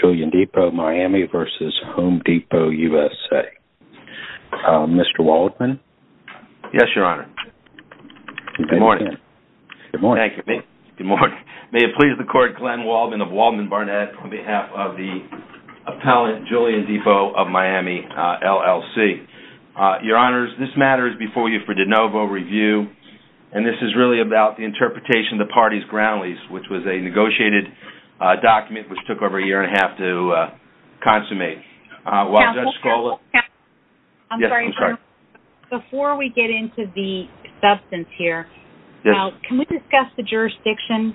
Julian Depot Miami v. Home Depot U.S.A. Mr. Waldman. Yes, Your Honor. Good morning. Good morning. Thank you. Good morning. May it please the Court, Glenn Waldman of Waldman Barnett on behalf of the appellant Julian Depot of Miami, LLC. Your Honors, this matter is before you for de novo review and this is really about the interpretation of the party's ground lease, which was a negotiated document which took over a year and a half to consummate. Before we get into the substance here, can we discuss the jurisdiction?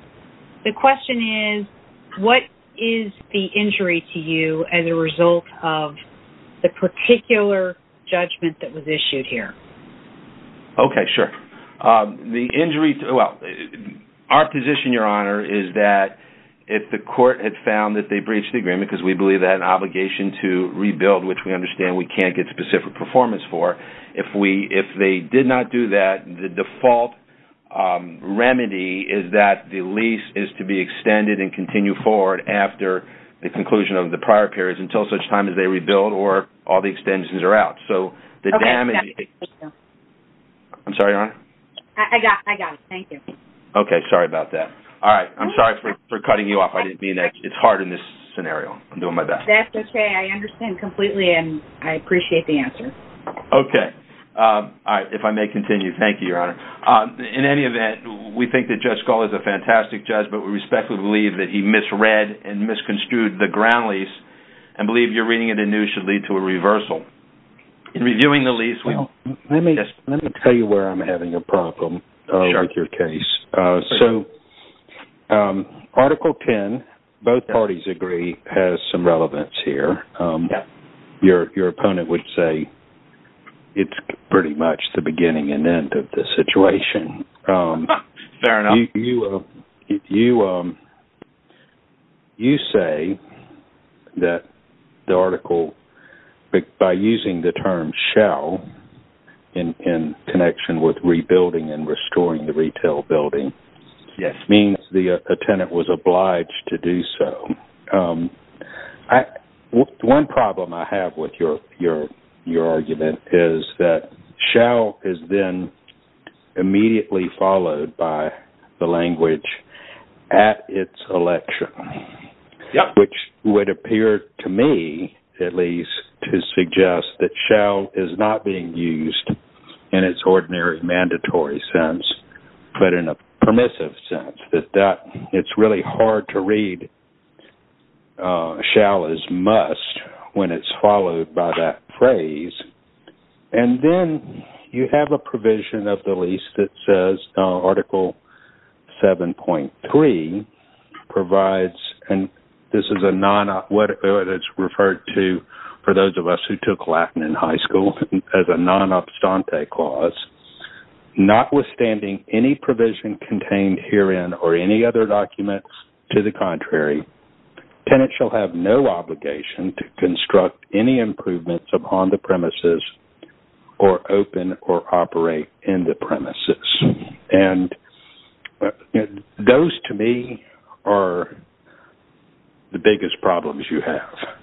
The question is, what is the injury to you as a result of the particular judgment that was issued here? Okay, sure. The injury, well, our position, Your Honor, is that if the court had found that they breached the agreement, because we believe that an obligation to rebuild, which we understand we can't get specific performance for, if we, if they did not do that, the default remedy is that the lease is to be extended and continue forward after the conclusion of the prior periods until such time as they rebuild or all the extensions are out. So the damage... I'm sorry, Your Honor? I got it, I got it. Thank you. Okay, sorry about that. All right, I'm sorry for cutting you off. I didn't mean that. It's hard in this scenario. I'm doing my best. That's okay. I understand completely and I appreciate the answer. Okay. All right, if I may continue. Thank you, Your Honor. In any event, we think that Judge Scull is a fantastic judge, but we respectfully believe that he misread and misconstrued the ground lease and believe you're new should lead to a reversal. In reviewing the lease... Let me tell you where I'm having a problem with your case. So Article 10, both parties agree, has some relevance here. Your opponent would say it's pretty much the beginning and end of the situation. Fair enough. You say that the by using the term shall in connection with rebuilding and restoring the retail building, it means the tenant was obliged to do so. One problem I have with your argument is that shall is then immediately followed by the lease to suggest that shall is not being used in its ordinary mandatory sense, but in a permissive sense. It's really hard to read shall as must when it's followed by that phrase. And then you have a provision of the lease that says Article 7.3 provides, and this is a non... what it's referred to for those of us who took Latin in high school as a non-abstante clause, not withstanding any provision contained herein or any other documents to the contrary, tenants shall have no obligation to construct any improvements upon the premises or open or operate in the premises. And those to me are the biggest problems you have.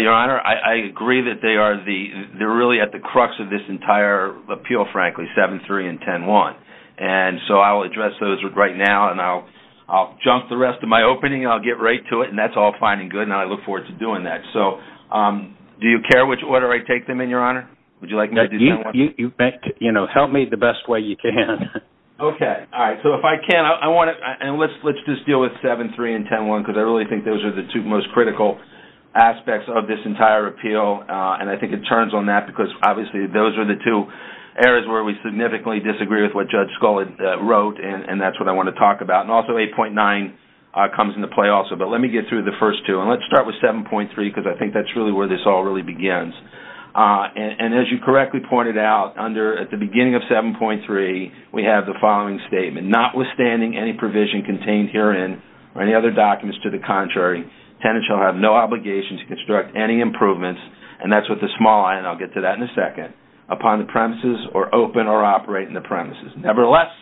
Your Honor, I agree that they are the... they're really at the crux of this entire appeal, frankly, 7.3 and 10.1. And so I will address those right now, and I'll jump the rest of my opening, I'll get right to it, and that's all fine and good, and I look forward to doing that. So do you care which order I take them in, Your Honor? Would you like me to do 10.1? You know, help me the best way you can. Okay, all right, so if I can, I want to... and let's just deal with 7.3 and 10.1 because I really think those are the two most critical aspects of this entire appeal, and I think it turns on that because obviously those are the two areas where we significantly disagree with what Judge Scullin wrote, and that's what I want to talk about. And also 8.9 comes into play also, but let me get through the first two, and let's start with 7.3 because I think that's really where this all really begins. And as you correctly pointed out, under... at the beginning of 7.3, we have the following statement, notwithstanding any provision contained herein or any other documents to the contrary, tenants shall have no obligation to construct any improvements, and that's with the small i, and I'll get to that in a second, upon the premises or open or operate in the premises. Nevertheless,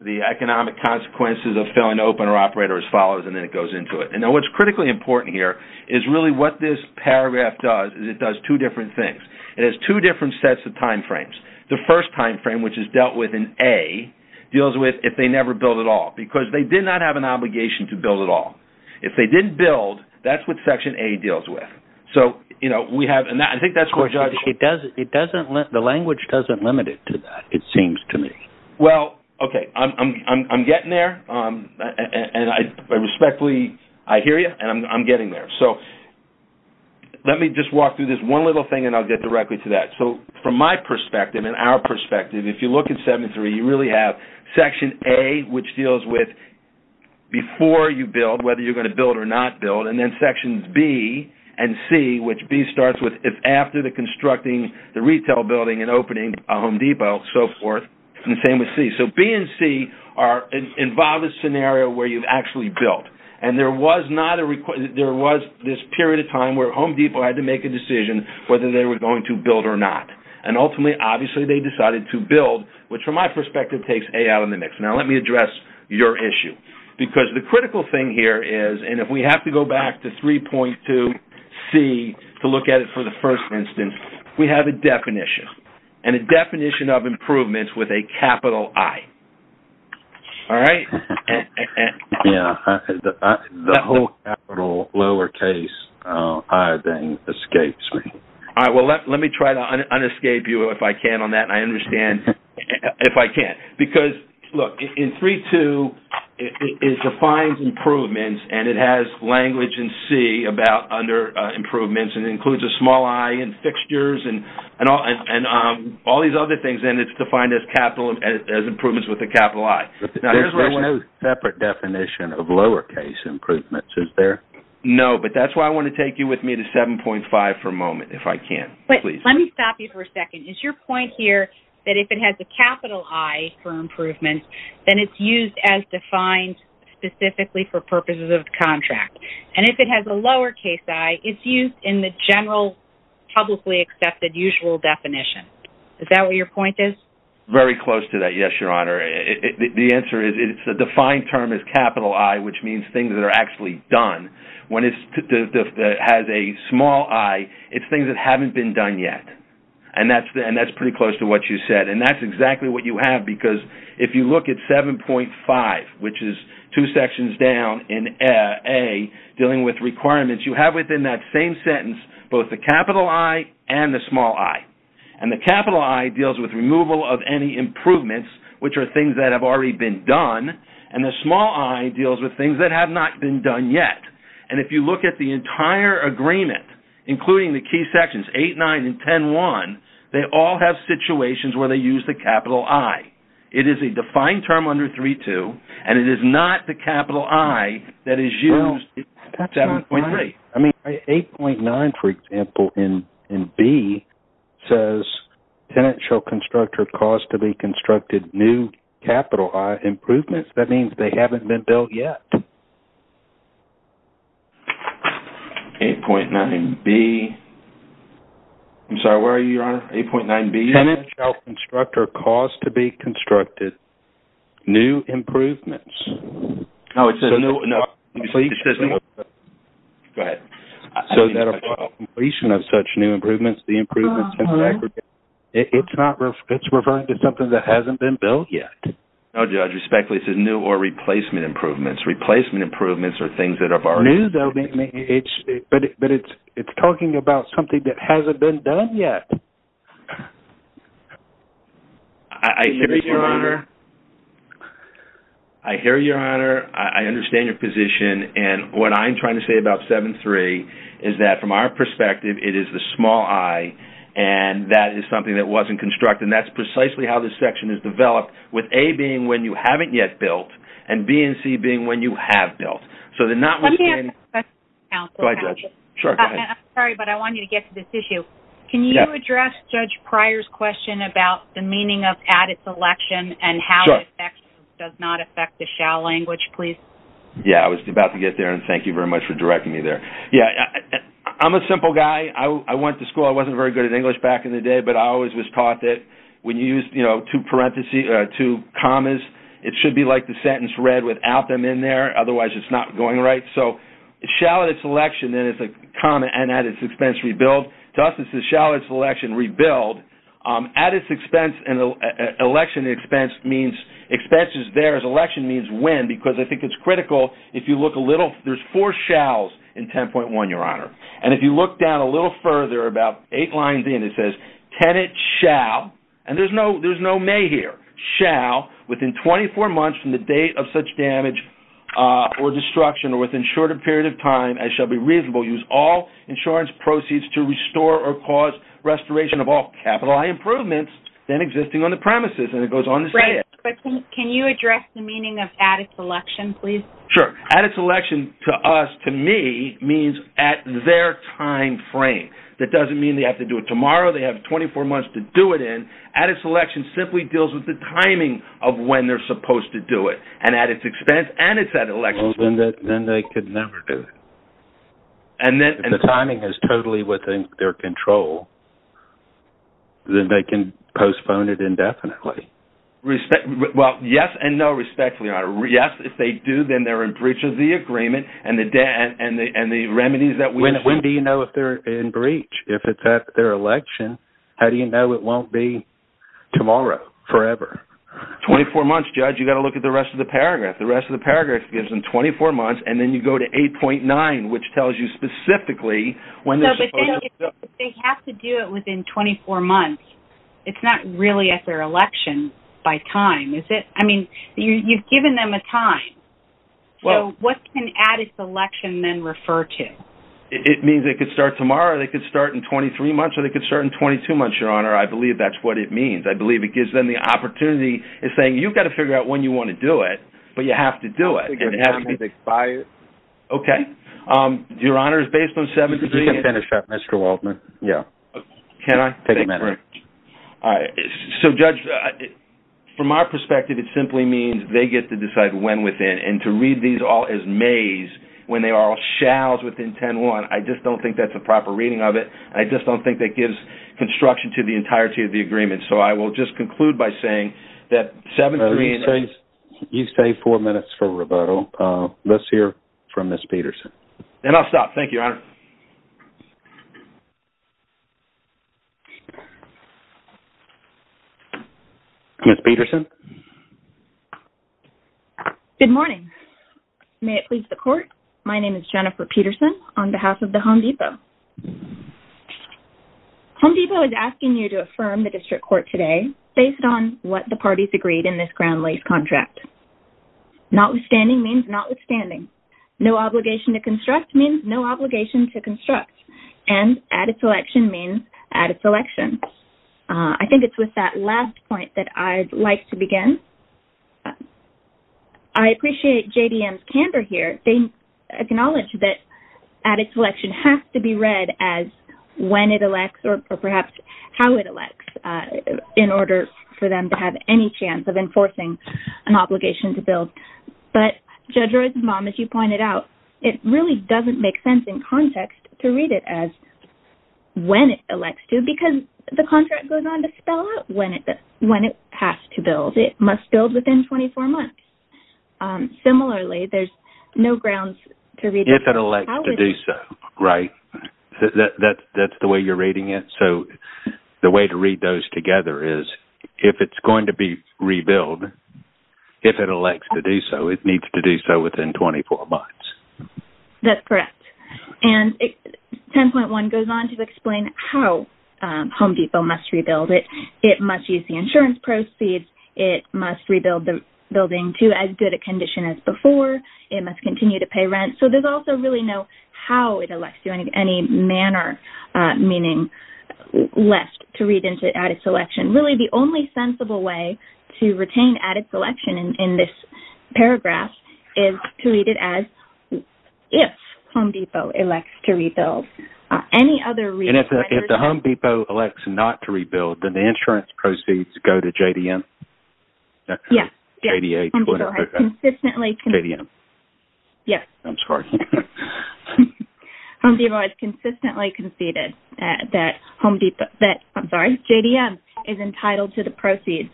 the economic consequences of filling open or operate are as follows, and then it goes into it. And now what's critically important here is really what this paragraph does, is it does two different things. It has two different sets of time frames. The first time frame, which is dealt with in A, deals with if they never build at all because they did not have an obligation to build at all. If they didn't build, that's what Section A deals with. So, you know, we have... and I think that's where Judge... It doesn't... it doesn't... the language doesn't limit it to that, it doesn't... and I respectfully... I hear you, and I'm getting there. So let me just walk through this one little thing and I'll get directly to that. So from my perspective and our perspective, if you look at 7.3, you really have Section A, which deals with before you build, whether you're going to build or not build, and then Sections B and C, which B starts with if after the constructing the retail building and opening a Home Depot, so forth, and the same with C. So B and C are... involve a scenario where you've actually built, and there was not a requirement... there was this period of time where Home Depot had to make a decision whether they were going to build or not, and ultimately, obviously, they decided to build, which from my perspective takes A out of the mix. Now let me address your issue because the critical thing here is, and if we have to go back to 3.2C to look at it for the first instance, we have a definition, and a definition of capital. All right. Yeah, the whole capital lowercase, I think, escapes me. All right, well, let me try to un-escape you if I can on that. I understand if I can't, because look, in 3.2, it defines improvements and it has language in C about under improvements and includes a small i and fixtures and all these other things, and it's defined as improvements with a capital I. There's no separate definition of lowercase improvements, is there? No, but that's why I want to take you with me to 7.5 for a moment, if I can, please. Wait, let me stop you for a second. Is your point here that if it has a capital I for improvements, then it's used as defined specifically for purposes of the contract, and if it has a lowercase I, it's used in the general publicly accepted usual definition? Is that what your point is? Very close to that, yes, Your Honor. The answer is it's a defined term as capital I, which means things that are actually done. When it's that has a small i, it's things that haven't been done yet, and that's pretty close to what you said, and that's exactly what you have, because if you look at 7.5, which is two sections down in A, dealing with requirements, you have within that same sentence both the capital I and the with removal of any improvements, which are things that have already been done, and the small i deals with things that have not been done yet, and if you look at the entire agreement, including the key sections 8, 9, and 10, 1, they all have situations where they use the capital I. It is a defined term under 3.2, and it is not the capital I that is used in 7.3. I mean, 8.9, for example, in B, says, tenants shall construct or cause to be constructed new capital I improvements. That means they haven't been built yet. 8.9B. I'm sorry, where are you, Your Honor? 8.9B. Tenants shall construct or cause to be constructed new improvements. No, it says no. Go ahead. So that upon completion of such new improvements, the improvements, it's referring to something that hasn't been built yet? No, Judge. Respectfully, it says new or replacement improvements. Replacement improvements are things that have already been done. But it's talking about something that hasn't been done yet. I hear you, Your Honor. I understand your position, and what I'm trying to say about 7.3 is that from our perspective, it is the small I, and that is something that wasn't constructed, and that's precisely how this section is developed, with A being when you haven't yet built, and B and C being when you have built. So they're not... I'm sorry, but I want you to get to this issue. Can you address Judge Pryor's question about the meaning of added selection and how it does not affect the shall language, please? Yeah, I was about to get there, and thank you very much for directing me there. Yeah, I'm a simple guy. I went to school. I wasn't very good at English back in the day, but I always was taught that when you use, you know, two parentheses, two commas, it should be like the sentence read without them in there. Otherwise, it's not going right. So shall its selection, then it's a comma, and at its expense, rebuild. To us, this is shall its selection rebuild. At its expense and election expense means expenses there, as election means win, because I think it's And if you look down a little further, about eight lines in, it says tenant shall, and there's no there's no may here, shall within 24 months from the date of such damage or destruction, or within shorter period of time, as shall be reasonable, use all insurance proceeds to restore or cause restoration of all capital improvements then existing on the premises, and it goes on to say it. But can you address the meaning of added selection, please? Sure, added selection to us, to me, means at their timeframe. That doesn't mean they have to do it tomorrow, they have 24 months to do it in. Added selection simply deals with the timing of when they're supposed to do it, and at its expense, and it's at elections, then they could never do it. And then, and the timing is totally within their control, then they can postpone it indefinitely. Respect, well, yes and no, respectfully, your honor. Yes, if they do, then they're in breach of the debt and the and the remedies that we assume. When do you know if they're in breach? If it's at their election, how do you know it won't be tomorrow, forever? 24 months, judge, you got to look at the rest of the paragraph. The rest of the paragraph gives them 24 months, and then you go to 8.9, which tells you specifically when they're supposed to do it. No, but then, if they have to do it within 24 months, it's not really at their election by time, is it? I mean, you've given them a time. Well, what can added selection then refer to? It means they could start tomorrow, they could start in 23 months, or they could start in 22 months, your honor. I believe that's what it means. I believe it gives them the opportunity. It's saying, you've got to figure out when you want to do it, but you have to do it. Okay, your honor is based on seven minutes. You can finish that, Mr. Waldman. Yeah. Can I? Take a minute. All right, so judge, from my perspective, it simply means they get to decide when within, and to read these all as Mays, when they are all shalls within 10-1, I just don't think that's a proper reading of it. I just don't think that gives construction to the entirety of the agreement, so I will just conclude by saying that... You stay four minutes for rebuttal. Let's hear from Miss Peterson. And I'll stop. Thank you, your honor. Miss Peterson. Good morning. May it please the court, my name is Jennifer Peterson on behalf of the Home Depot. Home Depot is asking you to affirm the district court today based on what the parties agreed in this ground lease contract. Notwithstanding means notwithstanding. No obligation to construct means no obligation to construct, and added selection means added selection. I think it's with that last point that I'd like to begin. I appreciate JDM's candor here. They acknowledge that added selection has to be read as when it elects, or perhaps how it elects, in order for them to have any chance of enforcing an obligation to build. But Judge Roy's mom, as you pointed out, it really doesn't make sense in context to read it as when it elects to because the contract goes on to spell out when it when it has to build. It must build within 24 months. Similarly, there's no grounds to read it as how it... If it elects to do so. Right. That's the way you're reading it. So the way to read those together is if it's going to be rebuilt, if it elects to do so, it needs to do so within 24 months. That's correct. And 10.1 goes on to explain how Home Depot must rebuild it. It must use the insurance proceeds. It must rebuild the building to as good a condition as before. It must continue to pay rent. So there's also really no how it elects to any manner, meaning left to read into added selection. Really the only sensible way to retain added selection in this paragraph is to read it as if Home Depot elects to rebuild. Any other reason... If the Home Depot elects not to rebuild, then the insurance proceeds go to JDM? Yes. Home Depot has consistently conceded that JDM is entitled to the proceeds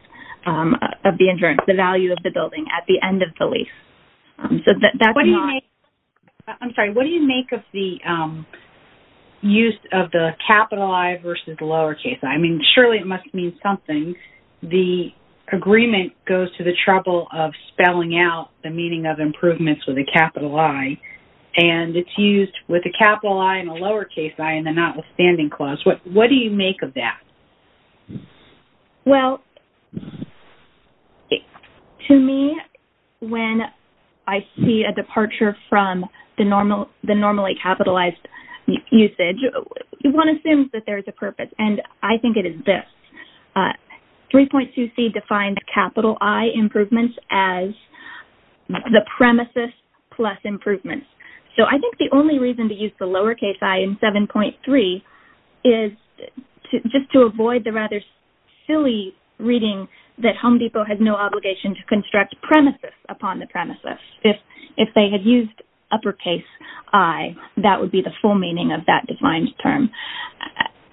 of the insurance, the value of the building, at the end of the lease. I'm sorry. What do you make of the use of the capital I versus the lowercase I? I mean, surely it must mean something. The agreement goes to the trouble of spelling out the meaning of improvements with a capital I, and it's used with a capital I and a lowercase I in the notwithstanding clause. What do you make of that? Well, to me, when I see a that there's a purpose, and I think it is this, 3.2C defined the capital I improvements as the premises plus improvements. So I think the only reason to use the lowercase I in 7.3 is just to avoid the rather silly reading that Home Depot has no obligation to construct premises upon the premises. If they had used uppercase I, that would be the full meaning of that defined term.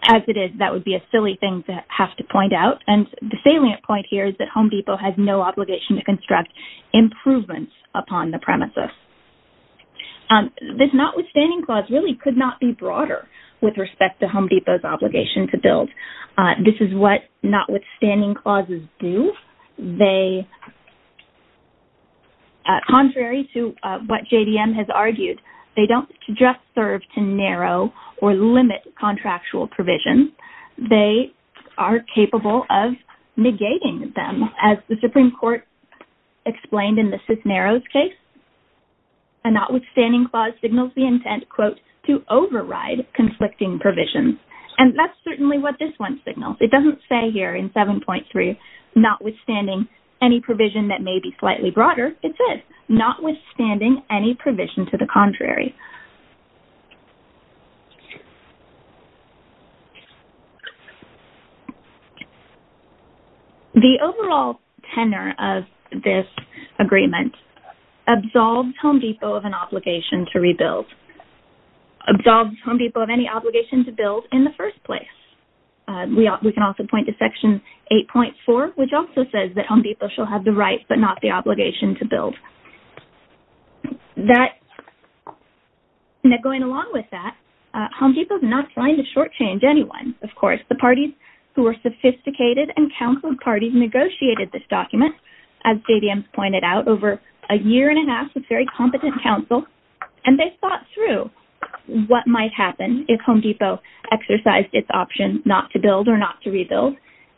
As it is, that would be a silly thing to have to point out, and the salient point here is that Home Depot has no obligation to construct improvements upon the premises. This notwithstanding clause really could not be broader with respect to Home Depot's obligation to build. This is what notwithstanding clauses do. They, contrary to what JDM has argued, they don't just serve to narrow or limit contractual provisions. They are capable of negating them. As the Supreme Court explained in the Cisneros case, a notwithstanding clause signals the intent, quote, to override conflicting provisions. And that's certainly what this one signals. It doesn't say here in 7.3, notwithstanding any provision that may be slightly broader. It says, notwithstanding any provision to the contrary. The overall tenor of this agreement absolves Home Depot of an obligation to rebuild, absolves Home Depot of any obligation to build in the first place. We can also point to section 8.4, which also says that Home Depot shall have the right but not the obligation to build. That, going along with that, Home Depot's not trying to shortchange anyone, of course. The parties who were sophisticated and counseled parties negotiated this document, as JDM pointed out, over a year and a half with very competent counsel. And they thought through what might happen if Home Depot exercised its option not to build or not to rebuild.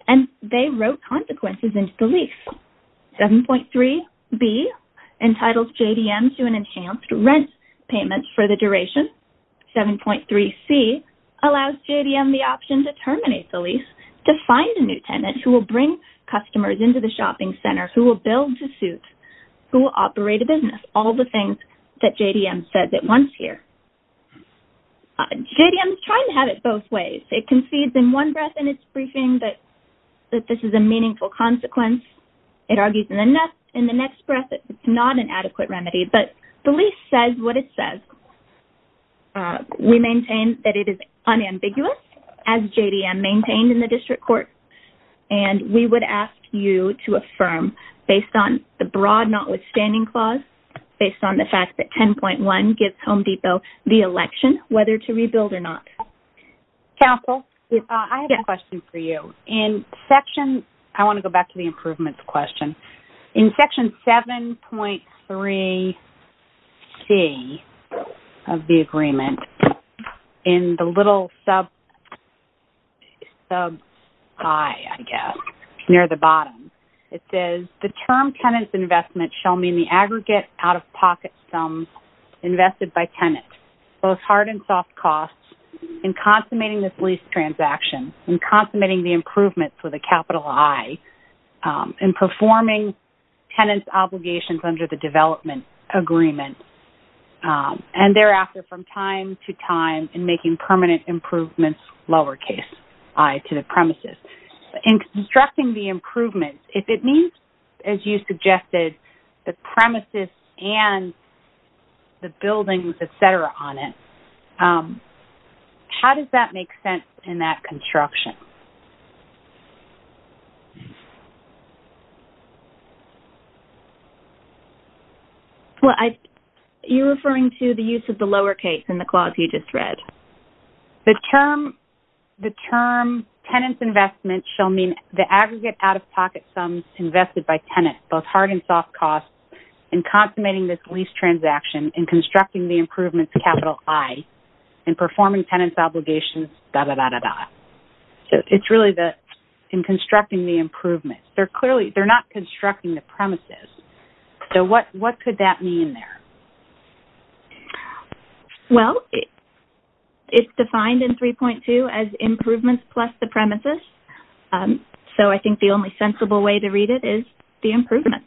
And they wrote consequences into the lease. 7.3b entitles JDM to an enhanced rent payment for the duration. 7.3c allows JDM the option to terminate the lease to find a new tenant who will bring customers into the shopping center, who will build to suit, who will operate a business. All the things that JDM says at once here. JDM is trying to have it both ways. It concedes in one breath in its briefing that this is a meaningful consequence. It argues in the next breath that it's not an adequate remedy. But the lease says what it says. We maintain that it is unambiguous, as JDM maintained in the district court. And we would ask you to affirm, based on the broad notwithstanding clause, based on the fact that 10.1 gives Home Depot the election whether to rebuild or not. Council, I have a question for you. In section, I want to go back to the improvements question. In section 7.3c of the agreement, in the little sub I guess near the bottom, it says the term tenant's investment shall mean the consummating this lease transaction, in consummating the improvements with a capital I, in performing tenant's obligations under the development agreement, and thereafter from time to time in making permanent improvements lowercase i to the premises. In constructing the improvements, if it suggested the premises and the buildings, etc. on it, how does that make sense in that construction? Well, you're referring to the use of the lowercase in the clause you just read. The term tenant's investment shall mean the aggregate out-of-pocket sums invested by tenants, both hard and soft costs, in consummating this lease transaction, in constructing the improvements capital I, in performing tenant's obligations, etc. So it's really that in constructing the improvements. They're clearly, they're not constructing the premises. So what could that mean there? Well, it's defined in 3.2 as improvements plus the way to read it is the improvements.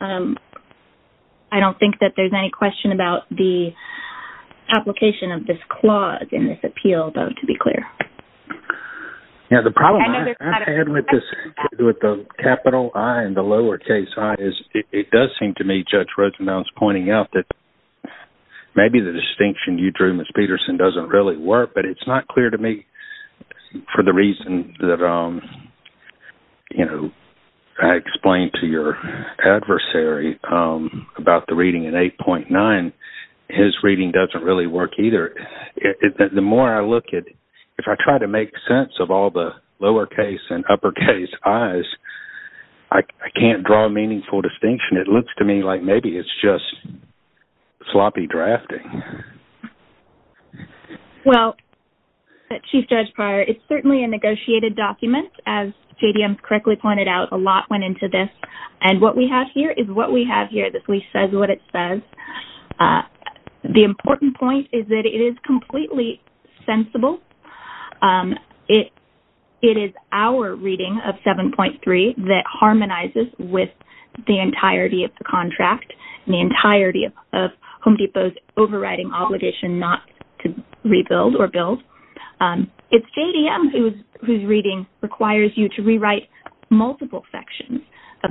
I don't think that there's any question about the application of this clause in this appeal though, to be clear. Yeah, the problem I had with this, with the capital I and the lowercase i, is it does seem to me, Judge Rosenbaum's pointing out, that maybe the distinction you drew, Ms. Peterson, doesn't really work, but it's not clear to me for the reason that, you explained to your adversary about the reading in 8.9, his reading doesn't really work either. The more I look at, if I try to make sense of all the lowercase and uppercase i's, I can't draw a meaningful distinction. It looks to me like maybe it's just sloppy drafting. Well, Chief Judge Pryor, it's certainly a lot went into this, and what we have here is what we have here. This at least says what it says. The important point is that it is completely sensible. It is our reading of 7.3 that harmonizes with the entirety of the contract, the entirety of Home Depot's overriding obligation not to rebuild or build. It's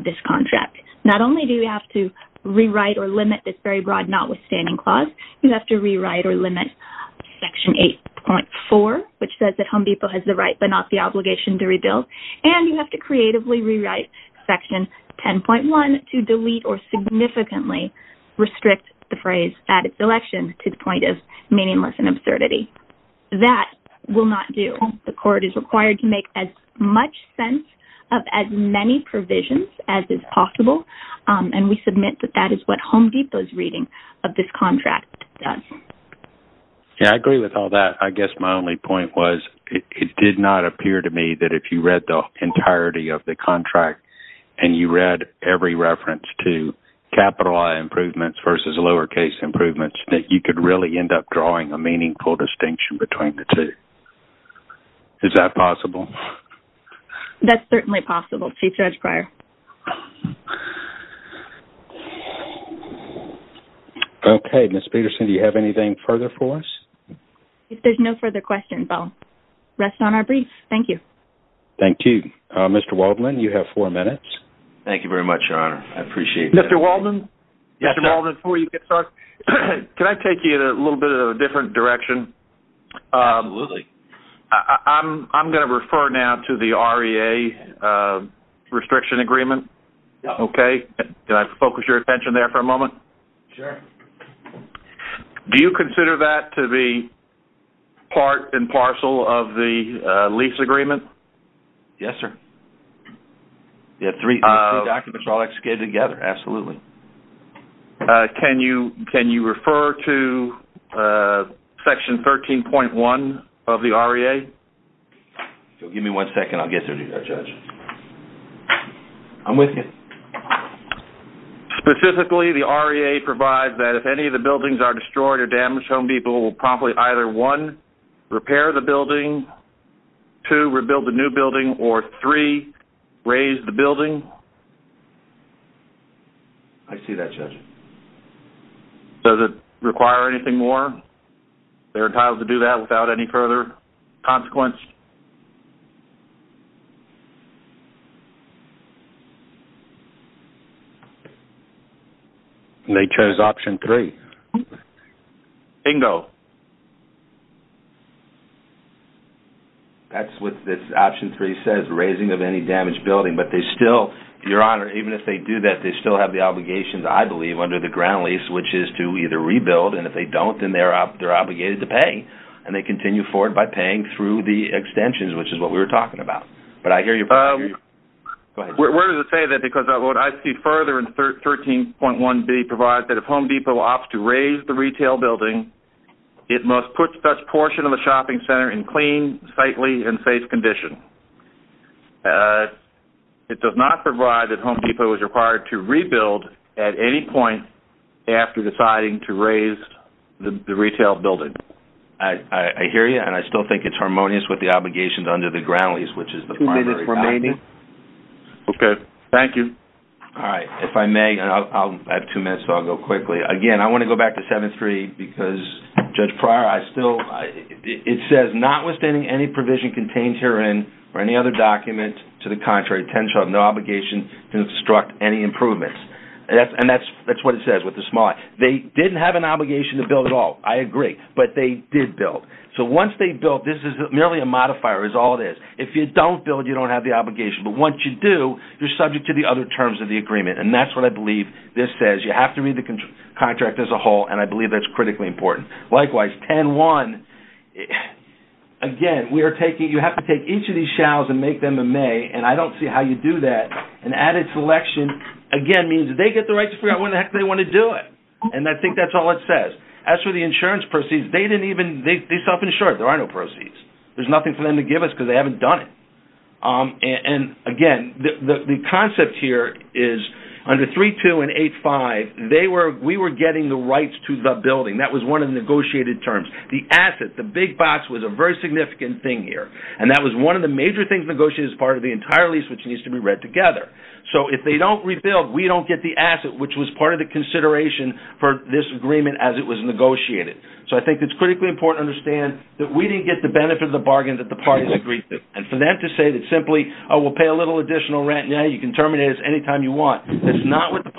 this contract. Not only do you have to rewrite or limit this very broad notwithstanding clause, you have to rewrite or limit section 8.4, which says that Home Depot has the right but not the obligation to rebuild, and you have to creatively rewrite section 10.1 to delete or significantly restrict the phrase at its election to the point of meaningless and absurdity. That will not do. The court is required to make as much sense of as many provisions as is possible, and we submit that that is what Home Depot's reading of this contract does. Yeah, I agree with all that. I guess my only point was it did not appear to me that if you read the entirety of the contract and you read every reference to capital I improvements versus lowercase improvements, that you could really end up drawing a meaningful distinction between the two. Is that possible? That's certainly possible, Chief Judge Pryor. Okay, Ms. Peterson, do you have anything further for us? If there's no further questions, I'll rest on our briefs. Thank you. Thank you. Mr. Waldman, you have four minutes. Thank you very much, Your Honor. I appreciate it. Mr. Waldman, before you get started, can I take you in a little bit of a different direction? Absolutely. I'm going to refer now to the REA restriction agreement. Okay. Can I focus your attention there for a moment? Sure. Do you consider that to be part and parcel of the lease agreement? Yes, sir. Yeah, three documents are all executed together. Absolutely. Can you can you refer to section 13.1 of the REA? Give me one second. I'll get there to you, Judge. I'm with you. Specifically, the REA provides that if any of the buildings are destroyed or damaged, Home Depot will promptly either, one, repair the building, two, rebuild the new building, or three, raise the building. I see that, Judge. Does it require anything more? They're entitled to do that without any further consequence. They chose option three. Bingo. That's what this option three says, raising of any damaged building, but they still, Your Honor, even if they do that, they still have the obligations, I believe, under the ground lease, which is to either rebuild, and if they don't, then they're obligated to pay, and they continue forward by paying through the extensions, which is what we were talking about. But I hear you. Where does it say that? Because what I see further in 13.1B provides that if it must put such portion of a shopping center in clean, sightly, and safe condition. It does not provide that Home Depot is required to rebuild at any point after deciding to raise the retail building. I hear you, and I still think it's harmonious with the obligations under the ground lease, which is the primary option. Two minutes remaining. Okay. Thank you. All right. If I may, I have two minutes, so I'll go to Judge Pryor. I still, it says, notwithstanding any provision contained herein or any other document to the contrary, Tensha will have no obligation to instruct any improvements. And that's what it says with the small. They didn't have an obligation to build at all, I agree, but they did build. So once they built, this is merely a modifier, is all it is. If you don't build, you don't have the obligation, but once you do, you're subject to the other terms of the agreement, and that's what I believe this says. You have to read the contract as a whole, and I believe that's critically important. Likewise, 10-1, again, we are taking, you have to take each of these shalls and make them a may, and I don't see how you do that. An added selection, again, means they get the right to figure out when the heck they want to do it, and I think that's all it says. As for the insurance proceeds, they didn't even, they self-insured. There are no proceeds. There's nothing for them to give us because they haven't done it. And again, the concept here is under 3-2 and 8-5, they were, we were getting the rights to the building. That was one of the negotiated terms. The asset, the big box, was a very significant thing here, and that was one of the major things negotiated as part of the entire lease, which needs to be read together. So if they don't rebuild, we don't get the asset, which was part of the consideration for this agreement as it was negotiated. So I think it's critically important to understand that we didn't get the benefit of the bargain that the parties agreed to, and for them to say that simply, oh, we'll pay a little additional rent now, you can terminate us anytime you want, that's not what the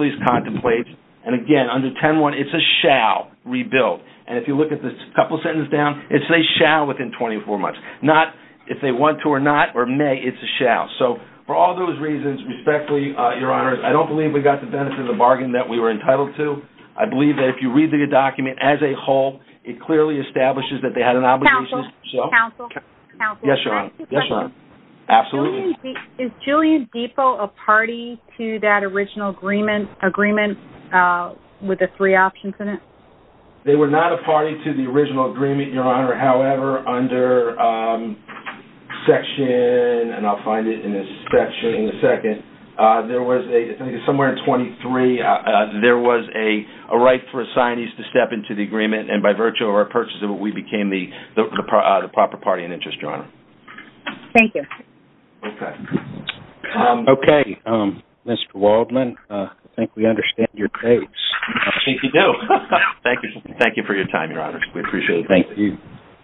lease contemplates. And again, under 10-1, it's a shall rebuild. And if you look at this couple sentences down, it's a shall within 24 months, not if they want to or not, or may, it's a shall. So for all those reasons, respectfully, Your Honor, I don't believe we got the benefit of the bargain that we were entitled to. I believe that if you read the document as a whole, it clearly establishes that they had an obligation. Counsel, counsel, counsel. Yes, Your Honor. Yes, Your Honor. Absolutely. Is Julian Depot a party to that original agreement, agreement with the three options in it? They were not a party to the original agreement, Your Honor. However, under section, and I'll find it in this section in a second, there was a somewhere in 23, there was a right for assignees to step into the agreement, and by virtue of our purchase of it, we became the proper party in interest, Your Honor. Thank you. Okay, Mr. Waldman, I think we understand your case. I think you do. Thank you. Thank you for your time, Your Honor. We appreciate it. Thank you.